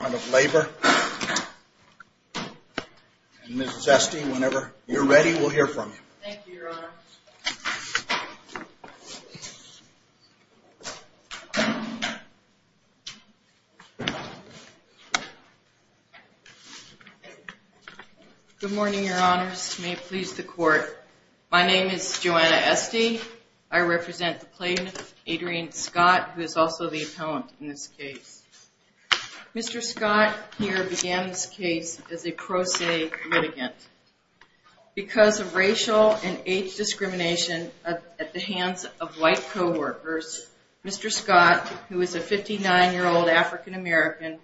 and Ms. Esty, whenever you're ready, we'll hear from you. Thank you, Your Honor. Good morning, Your Honors. May it please the Court. My name is Joanna Esty. I represent the plaintiff, Adrian Scott, who is also the appellant in this case. Mr. Scott, here, began this case as a pro se litigant. Because of racial and age discrimination at the hands of white co-workers, Mr. Scott, who is a 59-year-old African American,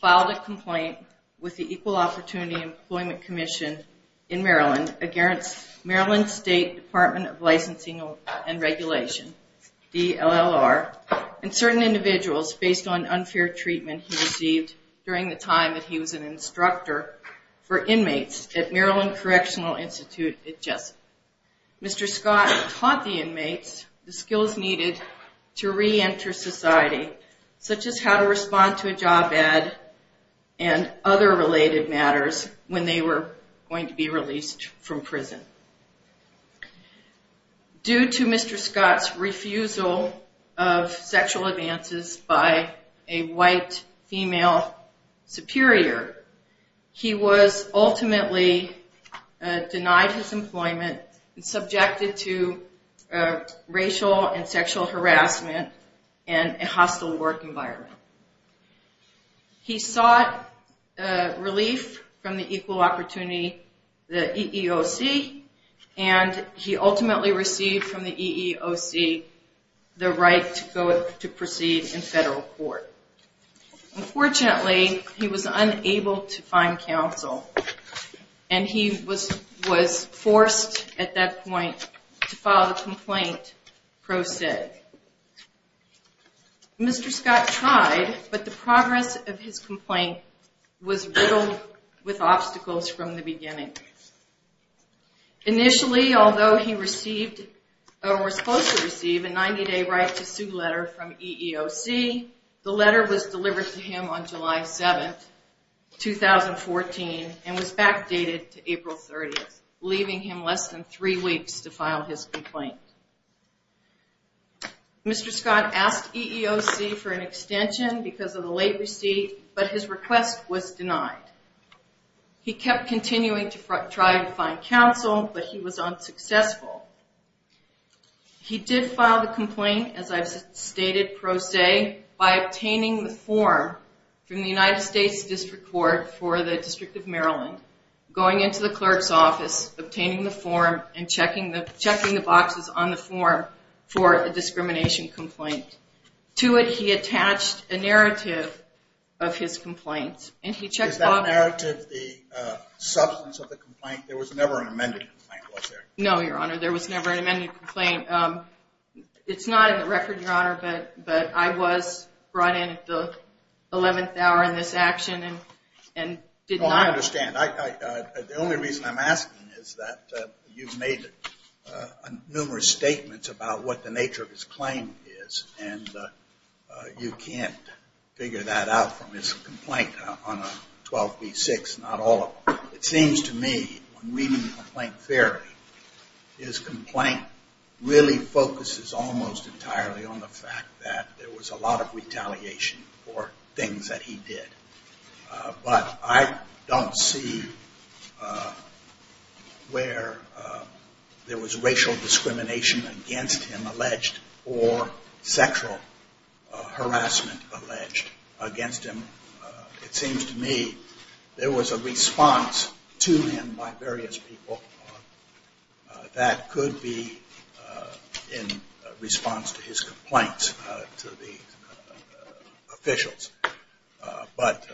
filed a complaint with the Equal Opportunity Employment Commission in Maryland against Maryland State Department of Licensing and Regulation, DLLR, and certain individuals based on unfair treatment he received during the time that he was an instructor for inmates at Maryland Correctional Institute at Jessup. Mr. Scott taught the inmates the skills needed to reenter society, such as how to respond to a job ad and other related matters when they were going to be held superior. He was ultimately denied his employment and subjected to racial and sexual harassment and a hostile work environment. He sought relief from the Equal Opportunity, the EEOC, and he ultimately received from the EEOC the right to proceed in federal court. Unfortunately, he was unable to find counsel, and he was forced at that point to file the complaint pro se. Mr. Scott tried, but the progress of his complaint was riddled with obstacles from the beginning. Initially, although he was supposed to receive a 90-day right to employment, the letter was delivered to him on July 7, 2014, and was backdated to April 30, leaving him less than three weeks to file his complaint. Mr. Scott asked EEOC for an extension because of the late receipt, but his request was denied. He kept continuing to try to find counsel, but he was unsuccessful. He did file the complaint, as I've stated, pro se, by obtaining the form from the United States District Court for the District of Maryland, going into the clerk's office, obtaining the form, and checking the boxes on the form for a discrimination complaint. To it, he No, Your Honor. There was never an amended complaint. It's not in the record, Your Honor, but I was brought in at the 11th hour in this action and did not understand. The only reason I'm asking is that you've made numerous statements about what the nature of his claim is, and you can't figure that out from his complaint theory. His complaint really focuses almost entirely on the fact that there was a lot of retaliation for things that he did. But I don't see where there was a response to him by various people that could be in response to his complaints to the officials. But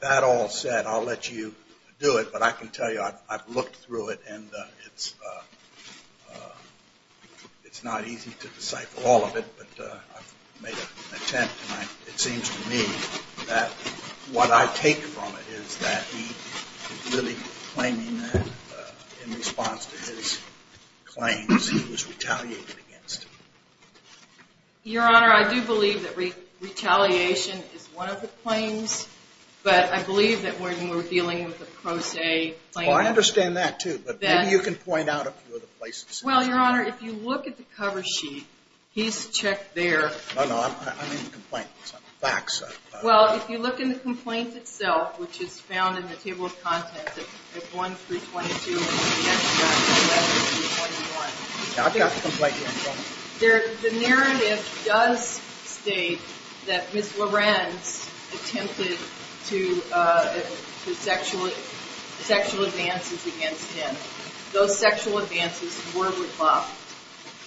that all said, I'll let you do it, but I can tell you I've not easy to decipher all of it, but I've made an attempt, and it seems to me that what I take from it is that he's really claiming that in response to his claims, he was retaliated against. Your Honor, I do believe that retaliation is one of the claims, but I believe that when we're dealing with a pro se claim Well, I understand that, too, but maybe you can point out a few other places. Well, Your Honor, if you look at the cover sheet, he's checked there No, no, I'm in the complaints. I'm back, so Well, if you look in the complaints itself, which is found in the table of contents at 1-322 and 1-321 Yeah, I've got the complaint here The narrative does state that Ms. Lorenz attempted sexual advances against him. Those sexual advances were rebuffed,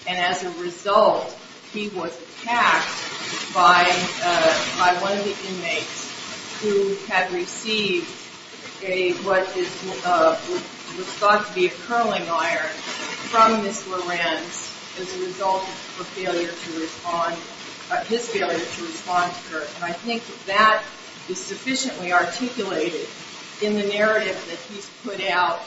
and as a result, he was attacked by one of the inmates who had received what was thought to be a curling iron from Ms. Lorenz as a result of his failure to respond to her, and I think that that is sufficiently articulated in the narrative that he's put out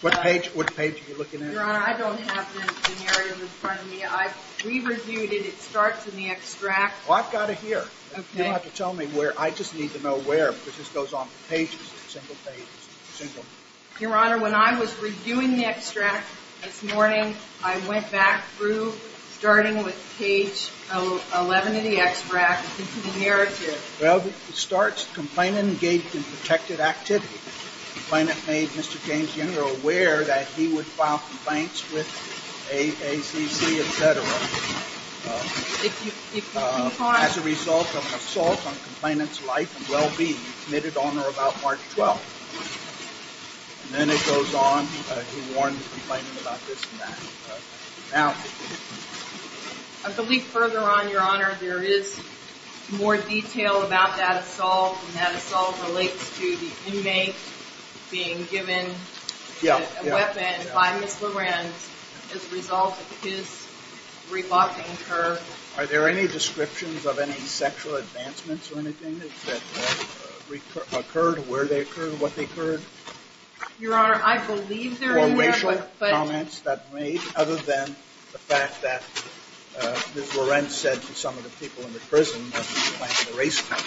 What page are you looking at? Your Honor, I don't have the narrative in front of me. I've re-reviewed it. It starts in the extract Well, I've got it here. You don't have to tell me where. I just need to know where because this goes on pages, single pages, single Your Honor, when I was reviewing the extract this morning, I went back through, starting with page 11 of the extract into the narrative Well, it starts, the complainant engaged in protected activity. The complainant made Mr. James Yenor aware that he would file complaints with AACC, etc. As a result of an assault on the complainant's life and well-being, he committed honor about March 12th And then it goes on, he warned the complainant about this and that I believe further on, Your Honor, there is more detail about that assault, and that assault relates to the inmate being given a weapon by Ms. Lorenz as a result of his rebuffing her Are there any descriptions of any sexual advancements or anything that occurred, where they occurred, what they occurred? Your Honor, I believe there are racial comments that were made, other than the fact that Ms. Lorenz said to some of the people in the prison that she was planning a race test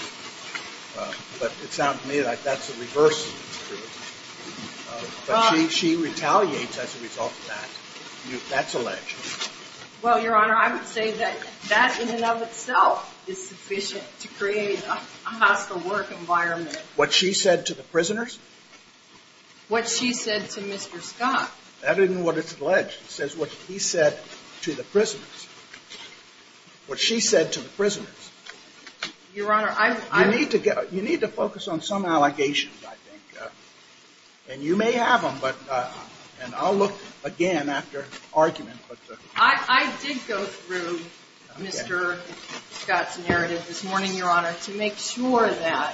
But it sounds to me like that's the reverse of the truth But she retaliates as a result of that. That's alleged Well, Your Honor, I would say that that in and of itself is sufficient to create a hostile work environment What she said to the prisoners? What she said to Mr. Scott That isn't what it's alleged. It says what he said to the prisoners What she said to the prisoners Your Honor, I'm You need to get, you need to focus on some allegations, I think And you may have them, but, and I'll look again after argument I did go through Mr. Scott's narrative this morning, Your Honor, to make sure that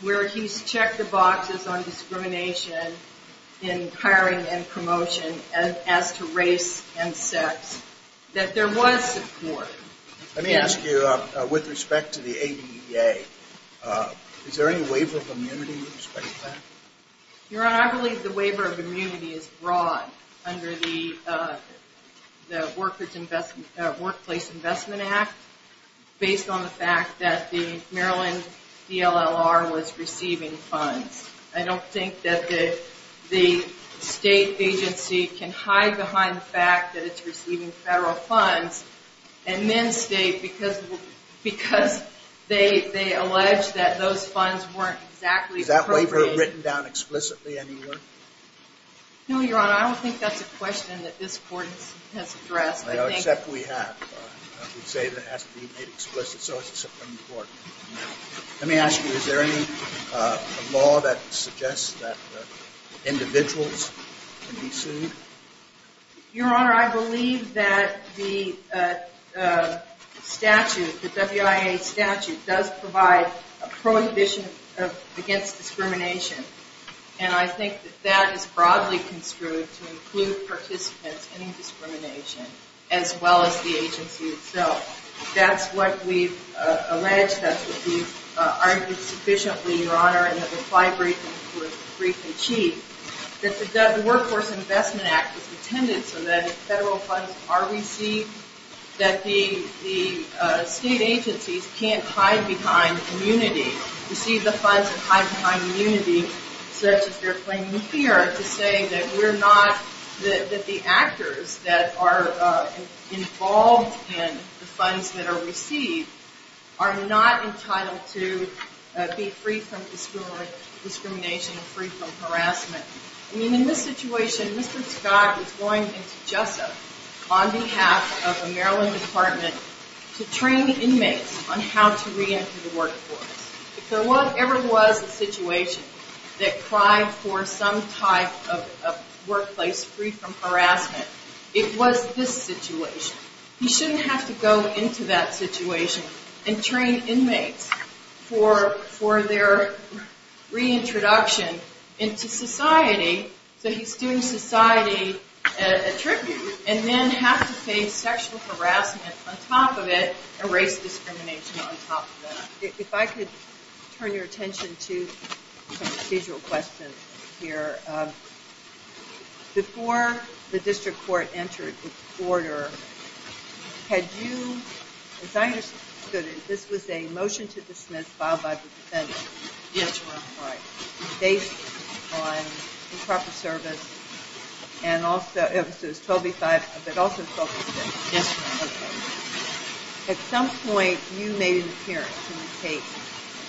where he's checked the boxes on discrimination in hiring and promotion as to race and sex, that there was support Let me ask you, with respect to the ADA, is there any waiver of immunity with respect to that? Your Honor, I believe the waiver of immunity is broad under the Workplace Investment Act Based on the fact that the Maryland DLLR was receiving funds I don't think that the state agency can hide behind the fact that it's receiving federal funds And then state, because they allege that those funds weren't exactly appropriate Is that waiver written down explicitly anywhere? No, Your Honor, I don't think that's a question that this Court has addressed Except we have. We say it has to be made explicit, so it's a Supreme Court Let me ask you, is there any law that suggests that individuals can be sued? Your Honor, I believe that the statute, the WIA statute, does provide a prohibition against discrimination And I think that that is broadly construed to include participants in discrimination, as well as the agency itself That's what we've alleged, that's what we've argued sufficiently, Your Honor, and that the five briefings were brief and cheap That the Workforce Investment Act was intended so that if federal funds are received That the state agencies can't hide behind immunity, receive the funds and hide behind immunity Such as they're claiming here to say that we're not, that the actors that are involved in the funds that are received Are not entitled to be free from discrimination and free from harassment I mean, in this situation, Mr. Scott is going into JUSA on behalf of the Maryland Department To train inmates on how to reenter the workforce If there ever was a situation that cried for some type of workplace free from harassment It was this situation He shouldn't have to go into that situation and train inmates for their reintroduction into society So he's doing society a tribute And then have to face sexual harassment on top of it, and race discrimination on top of it If I could turn your attention to some procedural questions here Before the district court entered its order, had you, as I understood it, this was a motion to dismiss filed by the defendant Yes, Your Honor Based on improper service, and also, it was 12B-5, but also 12B-6 Yes, Your Honor At some point, you made an appearance in the case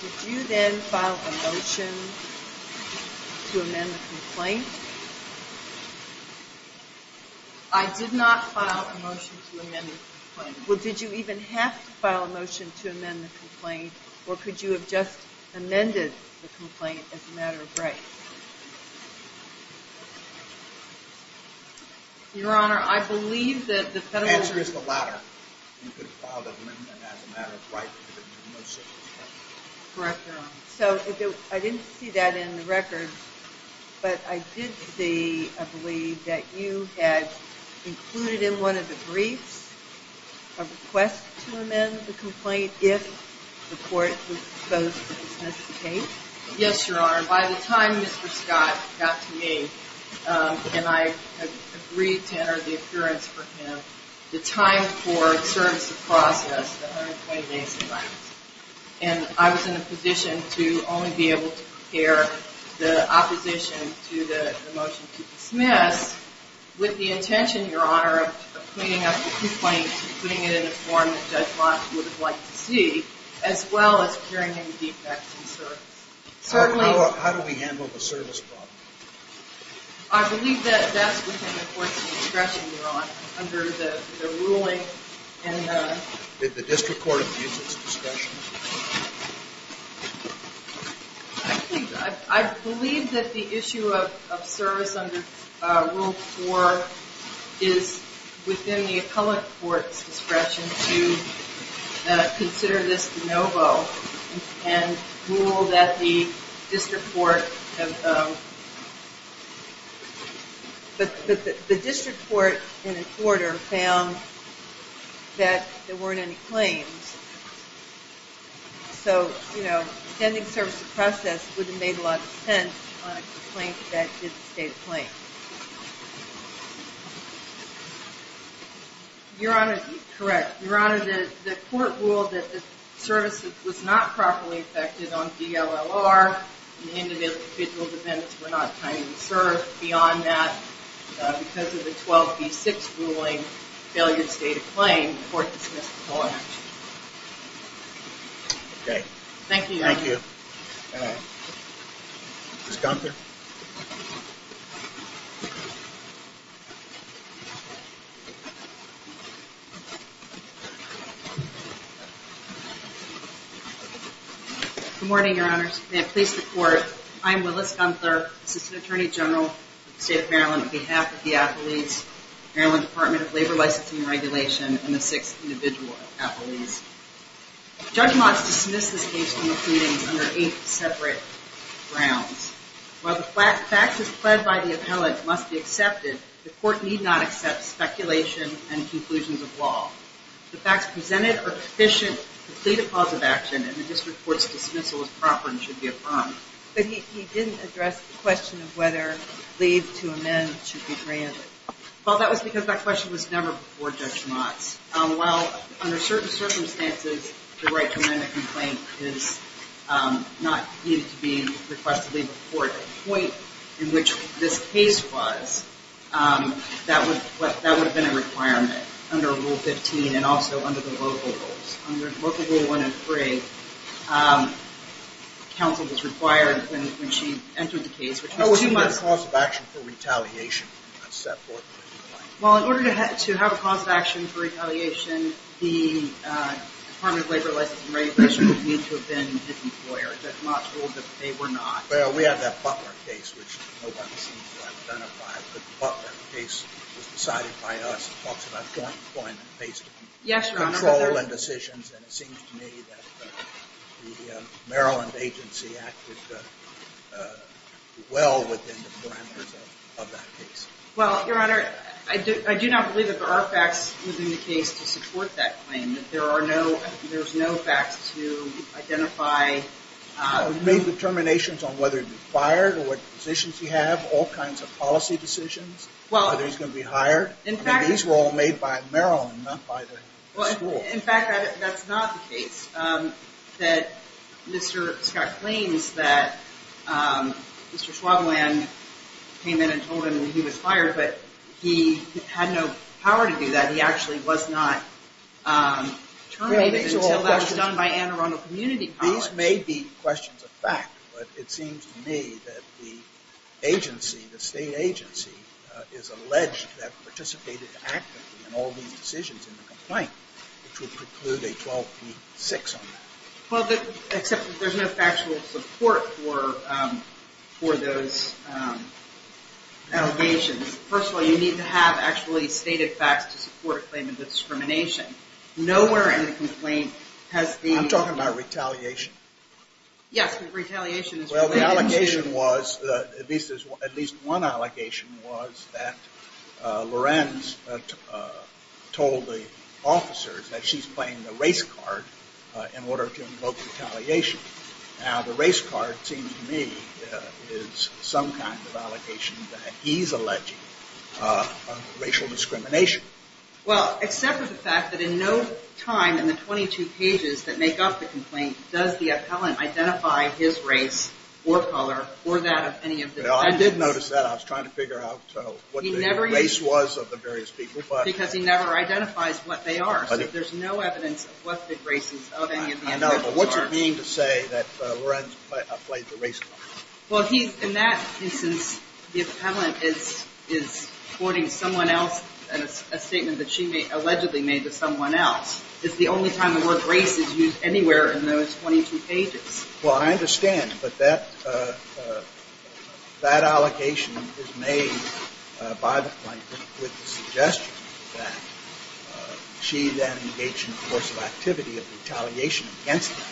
Did you then file a motion to amend the complaint? I did not file a motion to amend the complaint Well, did you even have to file a motion to amend the complaint? Or could you have just amended the complaint as a matter of grace? Your Honor, I believe that the federal The answer is the latter You could have filed an amendment as a matter of right to the motion Correct, Your Honor So, I didn't see that in the records But I did see, I believe, that you had included in one of the briefs a request to amend the complaint if the court was disposed to dismiss the case Yes, Your Honor By the time Mr. Scott got to me, and I had agreed to enter the appearance for him, the time for service of process, the 120 days, arrived And I was in a position to only be able to prepare the opposition to the motion to dismiss With the intention, Your Honor, of cleaning up the complaint, putting it in a form that Judge Moss would have liked to see As well as curing any defects in service Certainly How do we handle the service problem? I believe that that's within the court's discretion, Your Honor, under the ruling Did the district court abuse its discretion? I believe that the issue of service under Rule 4 is within the appellate court's discretion to consider this de novo And rule that the district court But the district court, in its order, found that there weren't any claims So, you know, extending service of process would have made a lot of sense on a complaint that didn't state a claim Your Honor Correct Your Honor, the court ruled that the service was not properly effected on DLLR Individual defendants were not kindly served Beyond that, because of the 12B6 ruling, failure to state a claim, the court dismissed the whole action Okay Thank you, Your Honor Thank you Ms. Gunther Ms. Gunther Good morning, Your Honors May I please report I'm Willis Gunther, Assistant Attorney General of the State of Maryland On behalf of the appellates, Maryland Department of Labor Licensing and Regulation And the six individual appellates Judge Moss dismissed this case from the proceedings under eight separate grounds While the facts as pled by the appellate must be accepted, the court need not accept speculation and conclusions of law The facts presented are sufficient to plead a cause of action, and the district court's dismissal is proper and should be affirmed But he didn't address the question of whether leave to amend should be granted Well, that was because that question was never before Judge Moss Well, under certain circumstances, the right to amend a complaint is not needed to be requested to leave the court At the point in which this case was, that would have been a requirement under Rule 15 and also under the local rules Under Local Rule 103, counsel was required when she entered the case What was the cause of action for retaliation? Well, in order to have a cause of action for retaliation, the Department of Labor Licensing and Regulation would need to have been his employer Judge Moss ruled that they were not Well, we have that Butler case, which nobody seems to have identified But the Butler case was decided by us It talks about joint employment based on control and decisions And it seems to me that the Maryland agency acted well within the parameters of that case Well, Your Honor, I do not believe that there are facts within the case to support that claim There's no facts to identify We've made determinations on whether he'd be fired or what positions he'd have, all kinds of policy decisions, whether he's going to be hired These were all made by Maryland, not by the school In fact, that's not the case That Mr. Scott claims that Mr. Schwabland came in and told him that he was fired, but he had no power to do that He actually was not terminated until that was done by Anne Arundel Community College These may be questions of fact, but it seems to me that the agency, the state agency, is alleged to have participated actively in all these decisions in the complaint Which would preclude a 12P6 on that Well, except that there's no factual support for those allegations First of all, you need to have actually stated facts to support a claim of discrimination Nowhere in the complaint has the... I'm talking about retaliation Yes, the retaliation is related... At least one allegation was that Lorenz told the officers that she's playing the race card in order to invoke retaliation Now, the race card seems to me is some kind of allegation that he's alleging racial discrimination Well, except for the fact that in no time in the 22 pages that make up the complaint does the appellant identify his race or color or that of any of the defendants I did notice that. I was trying to figure out what the race was of the various people Because he never identifies what they are, so there's no evidence of what the races of any of the defendants are I know, but what's it mean to say that Lorenz played the race card? Well, in that instance, the appellant is quoting someone else and a statement that she allegedly made to someone else It's the only time the word race is used anywhere in those 22 pages Well, I understand, but that allegation is made by the plaintiff with the suggestion that she then engaged in a course of activity of retaliation against him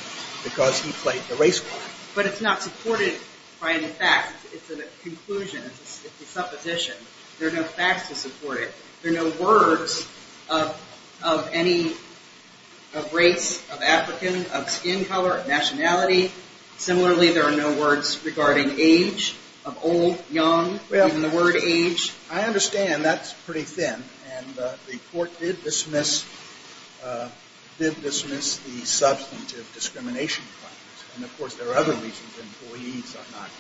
because he played the race card But it's not supported by any facts. It's a conclusion. It's a supposition. There are no facts to support it There are no words of any race, of African, of skin color, of nationality Similarly, there are no words regarding age, of old, young, even the word age I understand that's pretty thin, and the court did dismiss the substantive discrimination claims And, of course, there are other reasons employees are not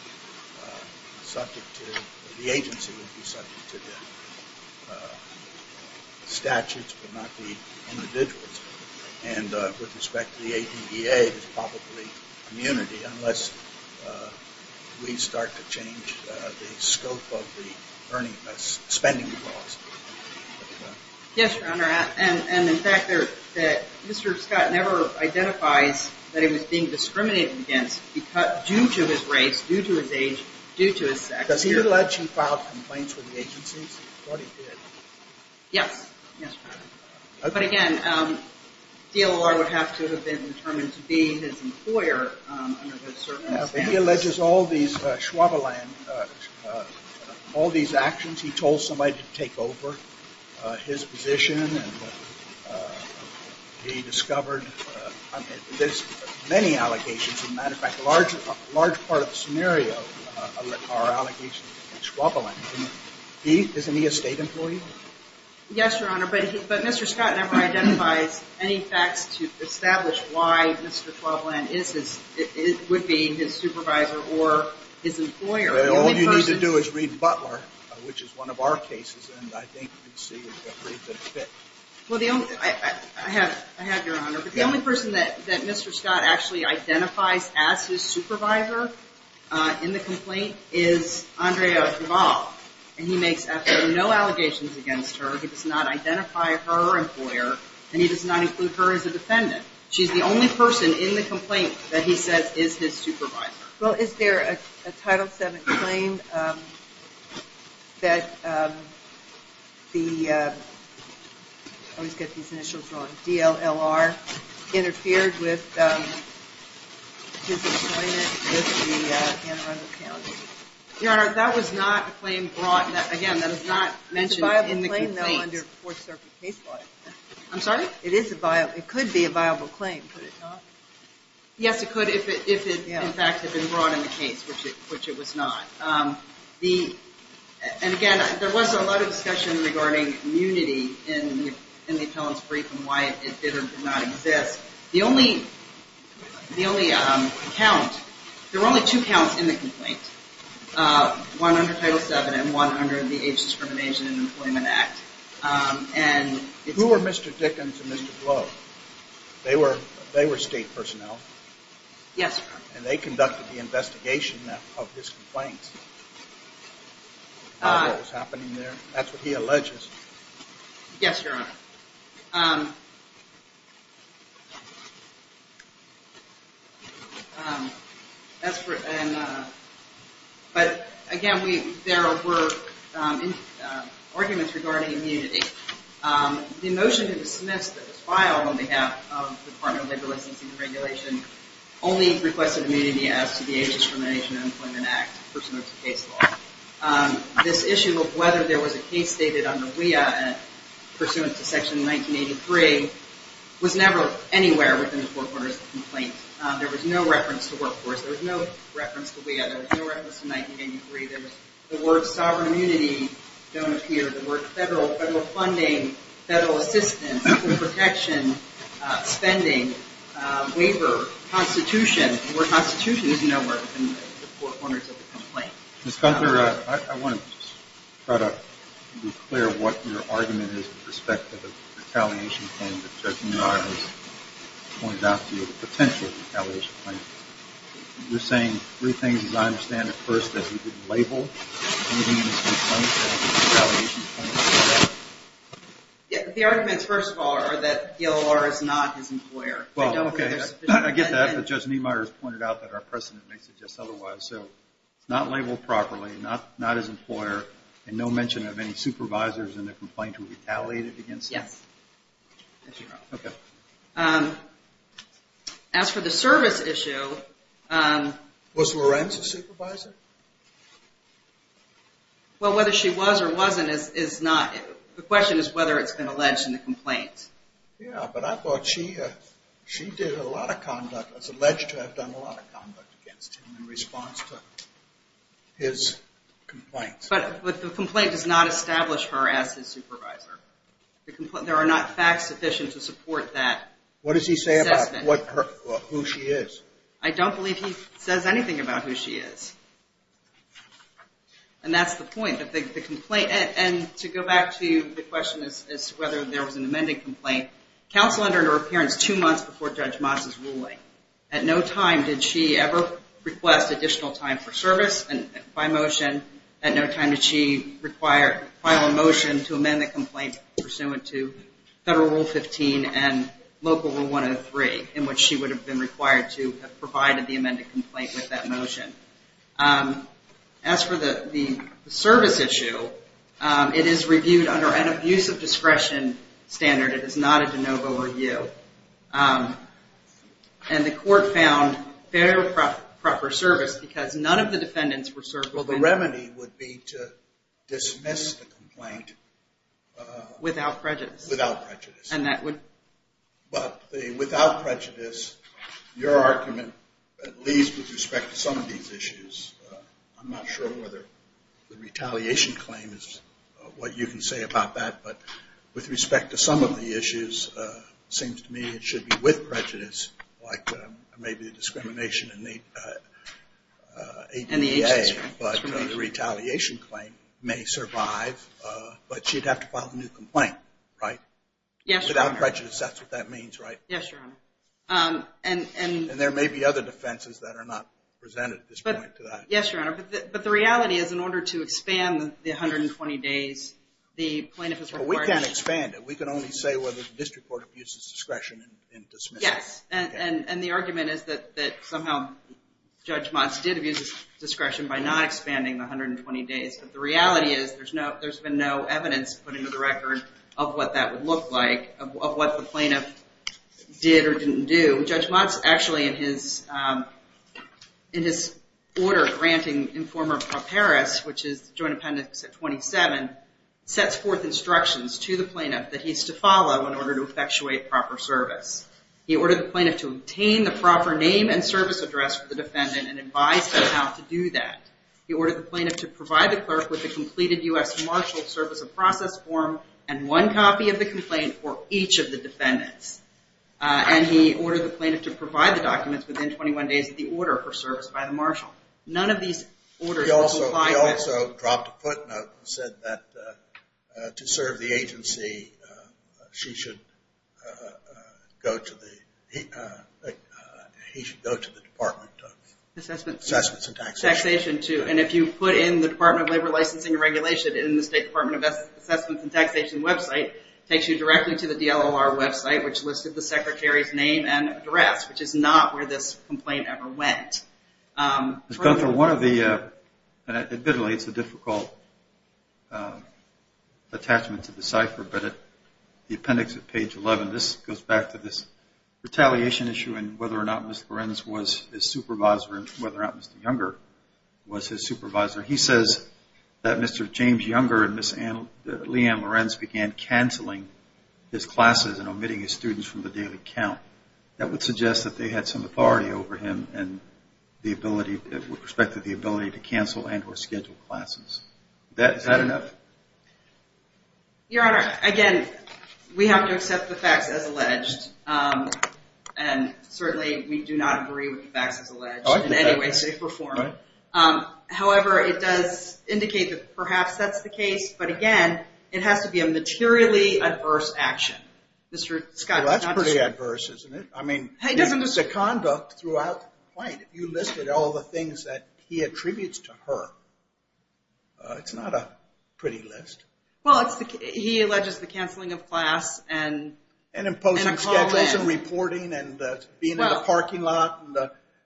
subject to, the agency would be subject to the statutes but not the individuals And with respect to the ATDA, it's probably immunity unless we start to change the scope of the spending laws Yes, Your Honor, and the fact that Mr. Scott never identifies that he was being discriminated against due to his race, due to his age, due to his sex Does he allege he filed complaints with the agencies? He thought he did Yes, yes, Your Honor. But again, DLR would have to have been determined to be his employer under those circumstances He alleges all these, Schwabeland, all these actions. He told somebody to take over his position And he discovered, there's many allegations, as a matter of fact, a large part of the scenario are allegations against Schwabeland Isn't he a State employee? Yes, Your Honor, but Mr. Scott never identifies any facts to establish why Mr. Schwabeland would be his supervisor or his employer All you need to do is read Butler, which is one of our cases, and I think you can see that it fits I have, Your Honor, but the only person that Mr. Scott actually identifies as his supervisor in the complaint is Andrea Duval And he makes absolutely no allegations against her. He does not identify her employer, and he does not include her as a defendant She's the only person in the complaint that he says is his supervisor Well, is there a Title VII claim that the, I always get these initials wrong, DLLR, interfered with his employment with the Anne Arundel County? Your Honor, that was not a claim brought, again, that was not mentioned in the complaint It's a viable claim though under Fourth Circuit case law I'm sorry? It is a viable, it could be a viable claim Could it not? Yes, it could if it in fact had been brought in the case, which it was not And again, there was a lot of discussion regarding immunity in the appellant's brief and why it did or did not exist The only count, there were only two counts in the complaint, one under Title VII and one under the Age Discrimination and Employment Act Who were Mr. Dickens and Mr. Glow? They were state personnel? Yes, Your Honor And they conducted the investigation of this complaint, what was happening there? That's what he alleges Yes, Your Honor But again, there were arguments regarding immunity The motion that was dismissed, that was filed on behalf of the Department of Labor Licensing and Regulation Only requested immunity as to the Age Discrimination and Employment Act, first notice of case law This issue of whether there was a case stated under WEA pursuant to Section 1983 was never anywhere within the four corners of the complaint There was no reference to workforce, there was no reference to WEA, there was no reference to 1983 The word sovereign immunity don't appear, the word federal funding, federal assistance, protection, spending, waiver, constitution The word constitution is nowhere within the four corners of the complaint Ms. Gunther, I want to try to be clear what your argument is with respect to the retaliation claim that Judge Niemeyer has pointed out to you The potential retaliation claim You're saying three things as I understand it first, that he didn't label anything in this complaint as a retaliation claim The arguments first of all are that DLR is not his employer I get that, but Judge Niemeyer has pointed out that our precedent may suggest otherwise So not labeled properly, not his employer, and no mention of any supervisors in the complaint who retaliated against him Yes As for the service issue Was Lorenz a supervisor? Well whether she was or wasn't is not, the question is whether it's been alleged in the complaint Yeah, but I thought she did a lot of conduct, was alleged to have done a lot of conduct against him in response to his complaint But the complaint does not establish her as his supervisor There are not facts sufficient to support that What does he say about who she is? I don't believe he says anything about who she is And that's the point of the complaint And to go back to the question as to whether there was an amended complaint Counsel under her appearance two months before Judge Moss' ruling At no time did she ever request additional time for service by motion At no time did she require a motion to amend the complaint pursuant to Federal Rule 15 and Local Rule 103 In which she would have been required to have provided the amended complaint with that motion As for the service issue It is reviewed under an abuse of discretion standard, it is not a de novo review And the court found fair and proper service because none of the defendants were served with Well the remedy would be to dismiss the complaint Without prejudice Without prejudice And that would But the without prejudice Your argument at least with respect to some of these issues I'm not sure whether the retaliation claim is what you can say about that But with respect to some of the issues Seems to me it should be with prejudice Like maybe the discrimination in the ADA But the retaliation claim may survive But she'd have to file a new complaint, right? Yes, Your Honor Without prejudice, that's what that means, right? Yes, Your Honor And there may be other defenses that are not presented at this point to that Yes, Your Honor, but the reality is in order to expand the 120 days The plaintiff is required We can't expand it, we can only say whether the district court abuses discretion in dismissing Yes, and the argument is that somehow Judge Moss did abuse discretion by not expanding the 120 days But the reality is there's been no evidence put into the record of what that would look like Of what the plaintiff did or didn't do Judge Moss actually in his order granting Informer Pro Paris Which is the Joint Appendix at 27 Sets forth instructions to the plaintiff that he's to follow in order to effectuate proper service He ordered the plaintiff to obtain the proper name and service address for the defendant And advised him how to do that He ordered the plaintiff to provide the clerk with the completed U.S. Marshal Service of Process form And one copy of the complaint for each of the defendants And he ordered the plaintiff to provide the documents within 21 days of the order for service by the Marshal None of these orders would comply with He also dropped a footnote and said that to serve the agency She should go to the He should go to the Department of Assessment Taxation too And if you put in the Department of Labor Licensing and Regulation In the State Department of Assessments and Taxation website Takes you directly to the DLOR website Which listed the secretary's name and address Which is not where this complaint ever went Ms. Gunther one of the Admittedly it's a difficult Attachment to decipher But the appendix at page 11 This goes back to this retaliation issue And whether or not Mr. Lorenz was his supervisor And whether or not Mr. Younger was his supervisor He says that Mr. James Younger and Ms. Leanne Lorenz Began canceling his classes and omitting his students from the daily count That would suggest that they had some authority over him And the ability With respect to the ability to cancel and or schedule classes Your Honor again We have to accept the facts as alleged And certainly we do not agree with the facts as alleged In any way shape or form However it does indicate that perhaps that's the case But again it has to be a materially adverse action Mr. Scott Well that's pretty adverse isn't it I mean the conduct throughout the complaint You listed all the things that he attributes to her It's not a pretty list Well he alleges the canceling of class And imposing schedules and reporting And being in the parking lot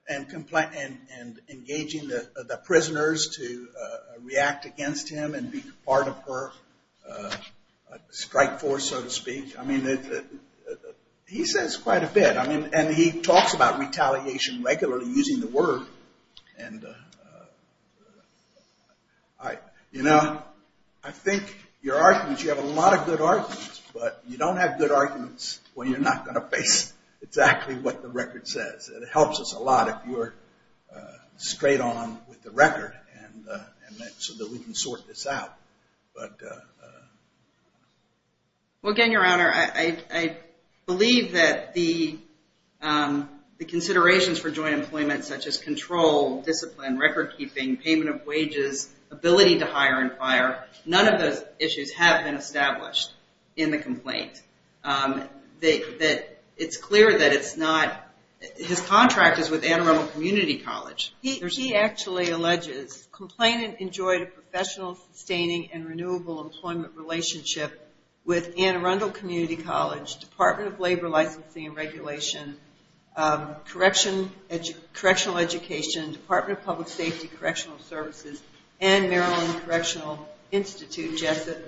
And engaging the prisoners to react against him And be part of her strike force so to speak I mean he says quite a bit And he talks about retaliation regularly using the word You have a lot of good arguments But you don't have good arguments When you're not going to face exactly what the record says It helps us a lot if you're straight on with the record And so that we can sort this out Well again Your Honor I believe that the considerations for joint employment Such as control, discipline, record keeping, payment of wages Ability to hire and fire None of those issues have been established in the complaint It's clear that it's not His contract is with Anne Arundel Community College He actually alleges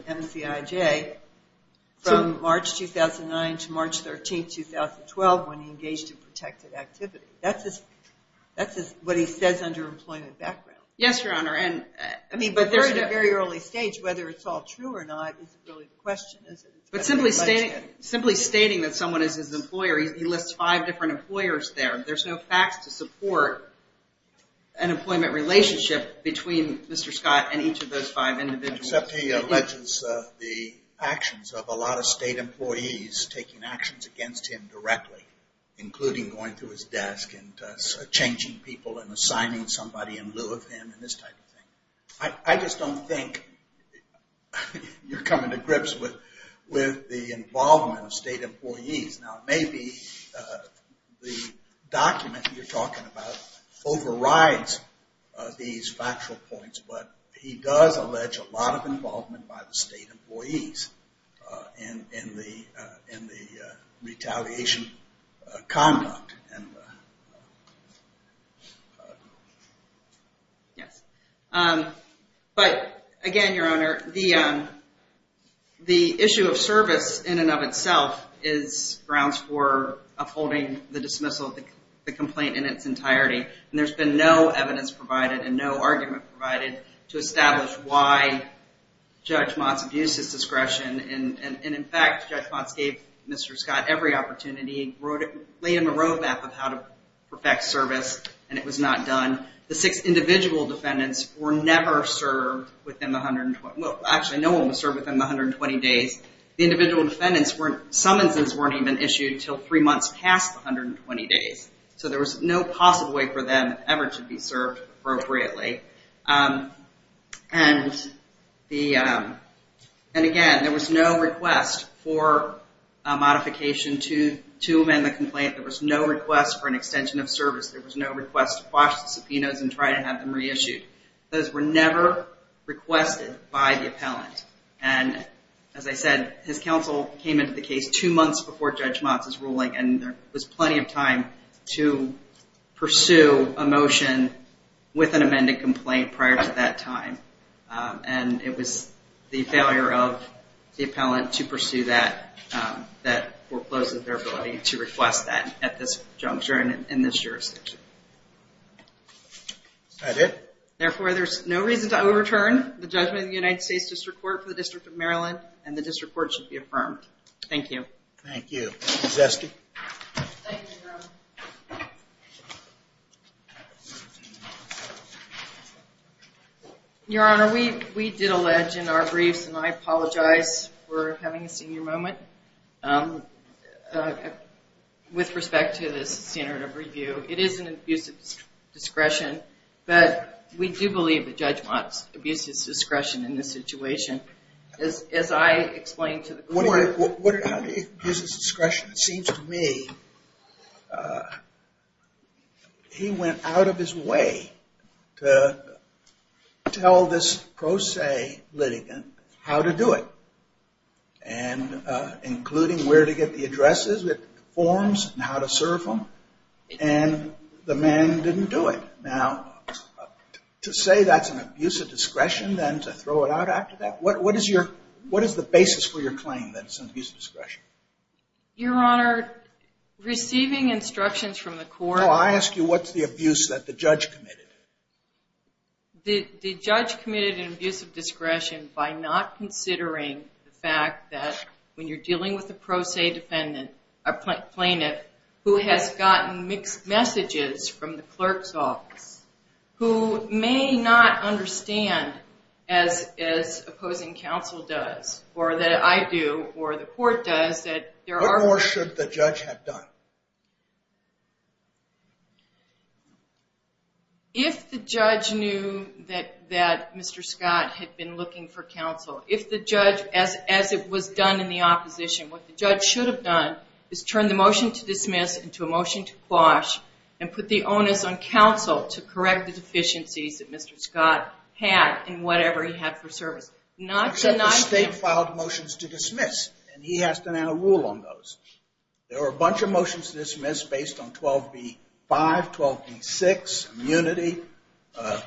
MCIJ From March 2009 to March 13, 2012 When he engaged in protected activity That's what he says under employment background Yes Your Honor I mean but they're at a very early stage Whether it's all true or not is really the question But simply stating that someone is his employer He lists five different employers there There's no facts to support an employment relationship Between Mr. Scott and each of those five individuals Except he alleges the actions of a lot of state employees Taking actions against him directly Including going to his desk And changing people And assigning somebody in lieu of him And this type of thing I just don't think you're coming to grips With the involvement of state employees Now maybe the document you're talking about Overrides these factual points But he does allege a lot of involvement By the state employees In the retaliation conduct Yes But again Your Honor The issue of service in and of itself Is grounds for upholding the dismissal of the complaint In its entirety And there's been no evidence provided And no argument provided To establish why Judge Motz abused his discretion And in fact Judge Motz gave Mr. Scott every opportunity He laid him a road map of how to perfect service And it was not done The six individual defendants were never served Within the 120 Well actually no one was served within the 120 days The individual defendants weren't Summonses weren't even issued Until three months past the 120 days So there was no possible way for them Ever to be served appropriately And again there was no request For a modification to amend the complaint There was no request for an extension of service There was no request to quash the subpoenas And try to have them reissued Those were never requested by the appellant And as I said his counsel came into the case Two months before Judge Motz's ruling And there was plenty of time to pursue a motion With an amended complaint prior to that time And it was the failure of the appellant to pursue that That forecloses their ability to request that At this juncture and in this jurisdiction That it? Therefore there's no reason to overturn The judgment of the United States District Court For the District of Maryland And the District Court should be affirmed Thank you Thank you Ms. Esty Thank you Your Honor Your Honor we did allege in our briefs And I apologize for having a senior moment With respect to this standard of review It is an abuse of discretion But we do believe that Judge Motz Abused his discretion in this situation As I explained to the court How did he abuse his discretion? It seems to me He went out of his way To tell this pro se litigant How to do it And including where to get the addresses With forms and how to serve them And the man didn't do it Now to say that's an abuse of discretion Then to throw it out after that What is the basis for your claim That it's an abuse of discretion? Your Honor Receiving instructions from the court I ask you what's the abuse that the judge committed? The judge committed an abuse of discretion By not considering the fact that When you're dealing with a pro se defendant A plaintiff Who has gotten mixed messages From the clerk's office Who may not understand As opposing counsel does Or that I do Or the court does What more should the judge have done? If the judge knew That Mr. Scott had been looking for counsel If the judge As it was done in the opposition What the judge should have done Is turn the motion to dismiss Into a motion to quash And put the onus on counsel To correct the deficiencies That Mr. Scott had In whatever he had for service Not to The state filed motions to dismiss And he has to now rule on those There were a bunch of motions to dismiss Based on 12b-5, 12b-6 Immunity A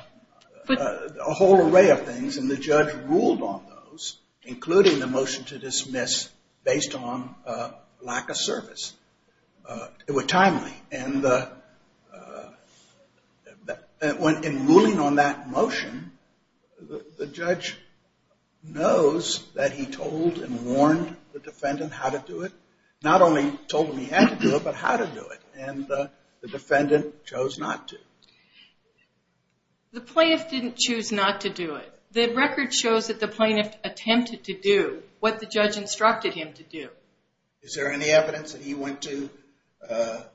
whole array of things And the judge ruled on those Including the motion to dismiss Based on lack of service It was timely And In ruling on that motion The judge knows That he told and warned The defendant how to do it Not only told him he had to do it But how to do it And the defendant chose not to The plaintiff didn't choose not to do it The record shows that the plaintiff Attempted to do What the judge instructed him to do Is there any evidence that he went to The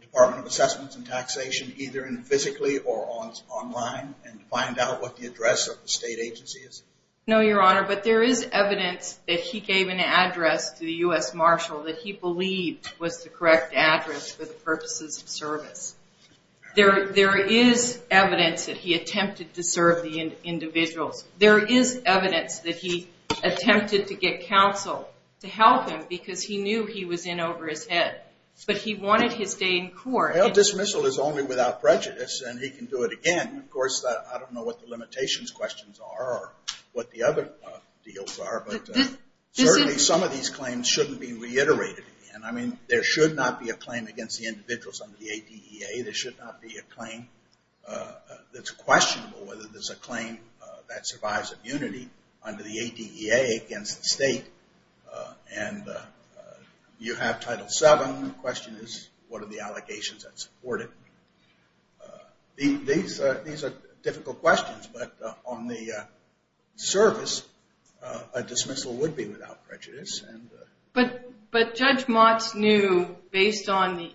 Department of Assessments and Taxation Either physically or online And find out what the address Of the state agency is? No, your honor But there is evidence That he gave an address To the U.S. Marshal That he believed was the correct address For the purposes of service There is evidence That he attempted to serve the individuals There is evidence That he attempted to get counsel To help him Because he knew he was in over his head But he wanted his day in court Well, dismissal is only without prejudice And he can do it again Of course, I don't know What the limitations questions are Or what the other deals are But certainly some of these claims Shouldn't be reiterated And I mean, there should not be A claim against the individuals Under the ATEA There should not be a claim That's questionable Whether there's a claim That survives immunity Under the ATEA Against the state And you have Title VII The question is What are the allegations that support it These are difficult questions But on the service A dismissal would be without prejudice But Judge Motz knew Based on the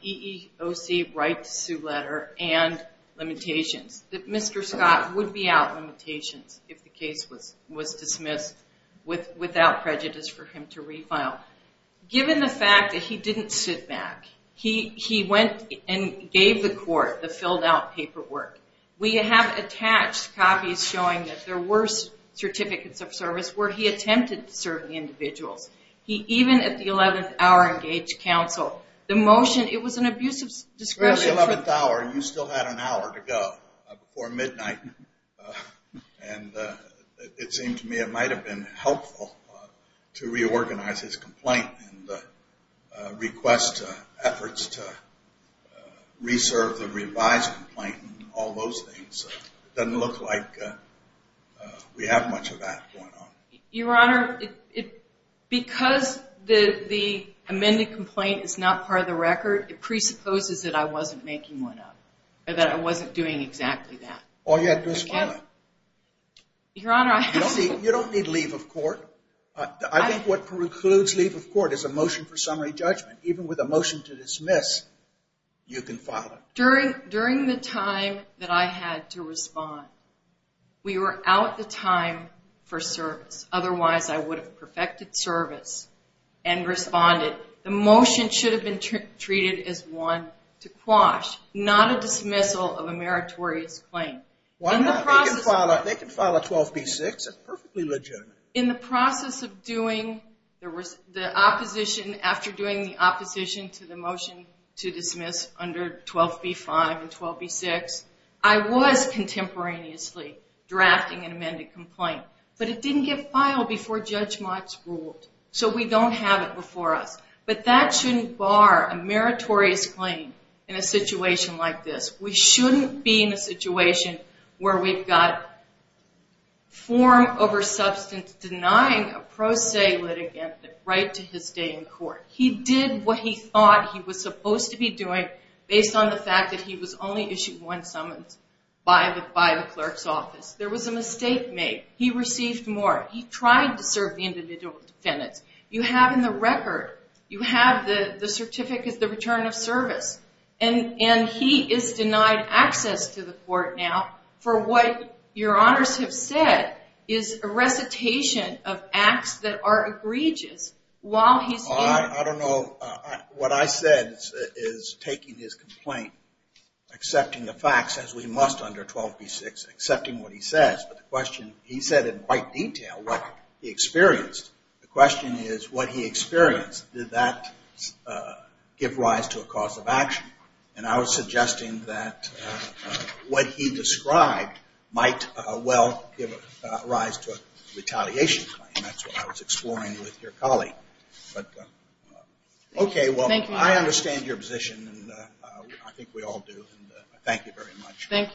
EEOC Right to sue letter And limitations That Mr. Scott would be out limitations If the case was dismissed Without prejudice for him to refile Given the fact that he didn't sit back He went and gave the court The filled out paperwork We have attached copies Showing that there were Certificates of service Where he attempted to serve the individuals He even at the 11th hour Engaged counsel The motion, it was an abusive discretion Before the 11th hour You still had an hour to go Before midnight And it seemed to me That it might have been helpful To reorganize his complaint And request efforts To reserve the revised complaint And all those things It doesn't look like We have much of that going on Your Honor Because the amended complaint Is not part of the record It presupposes that I wasn't making one up Or that I wasn't doing exactly that Or you had to respond Your Honor You don't need leave of court I think what precludes leave of court Is a motion for summary judgment Even with a motion to dismiss You can file it During the time that I had to respond We were out of time for service Otherwise I would have perfected service And responded The motion should have been treated As one to quash Not a dismissal of a meritorious claim Why not? They can file a 12b-6 It's perfectly legitimate In the process of doing The opposition After doing the opposition to the motion To dismiss under 12b-5 and 12b-6 I was contemporaneously Drafting an amended complaint But it didn't get filed before Judge Motz ruled So we don't have it before us But that shouldn't bar a meritorious claim In a situation like this We shouldn't be in a situation Where we've got Form over substance Denying a pro se litigant The right to his stay in court He did what he thought he was supposed to be doing Based on the fact that he was only issued one summons By the clerk's office There was a mistake made He received more He tried to serve the individual defendants You have in the record You have the certificate The return of service And he is denied access to the court now For what your honors have said Is a recitation of acts that are egregious While he's in I don't know What I said is Taking his complaint Accepting the facts As we must under 12b-6 Accepting what he says But the question He said in quite detail What he experienced The question is What he experienced Did that Give rise to a cause of action And I was suggesting that What he described Might well give rise to a retaliation And that's what I was exploring with your colleague But Okay well I think we all do Thank you very much Thank you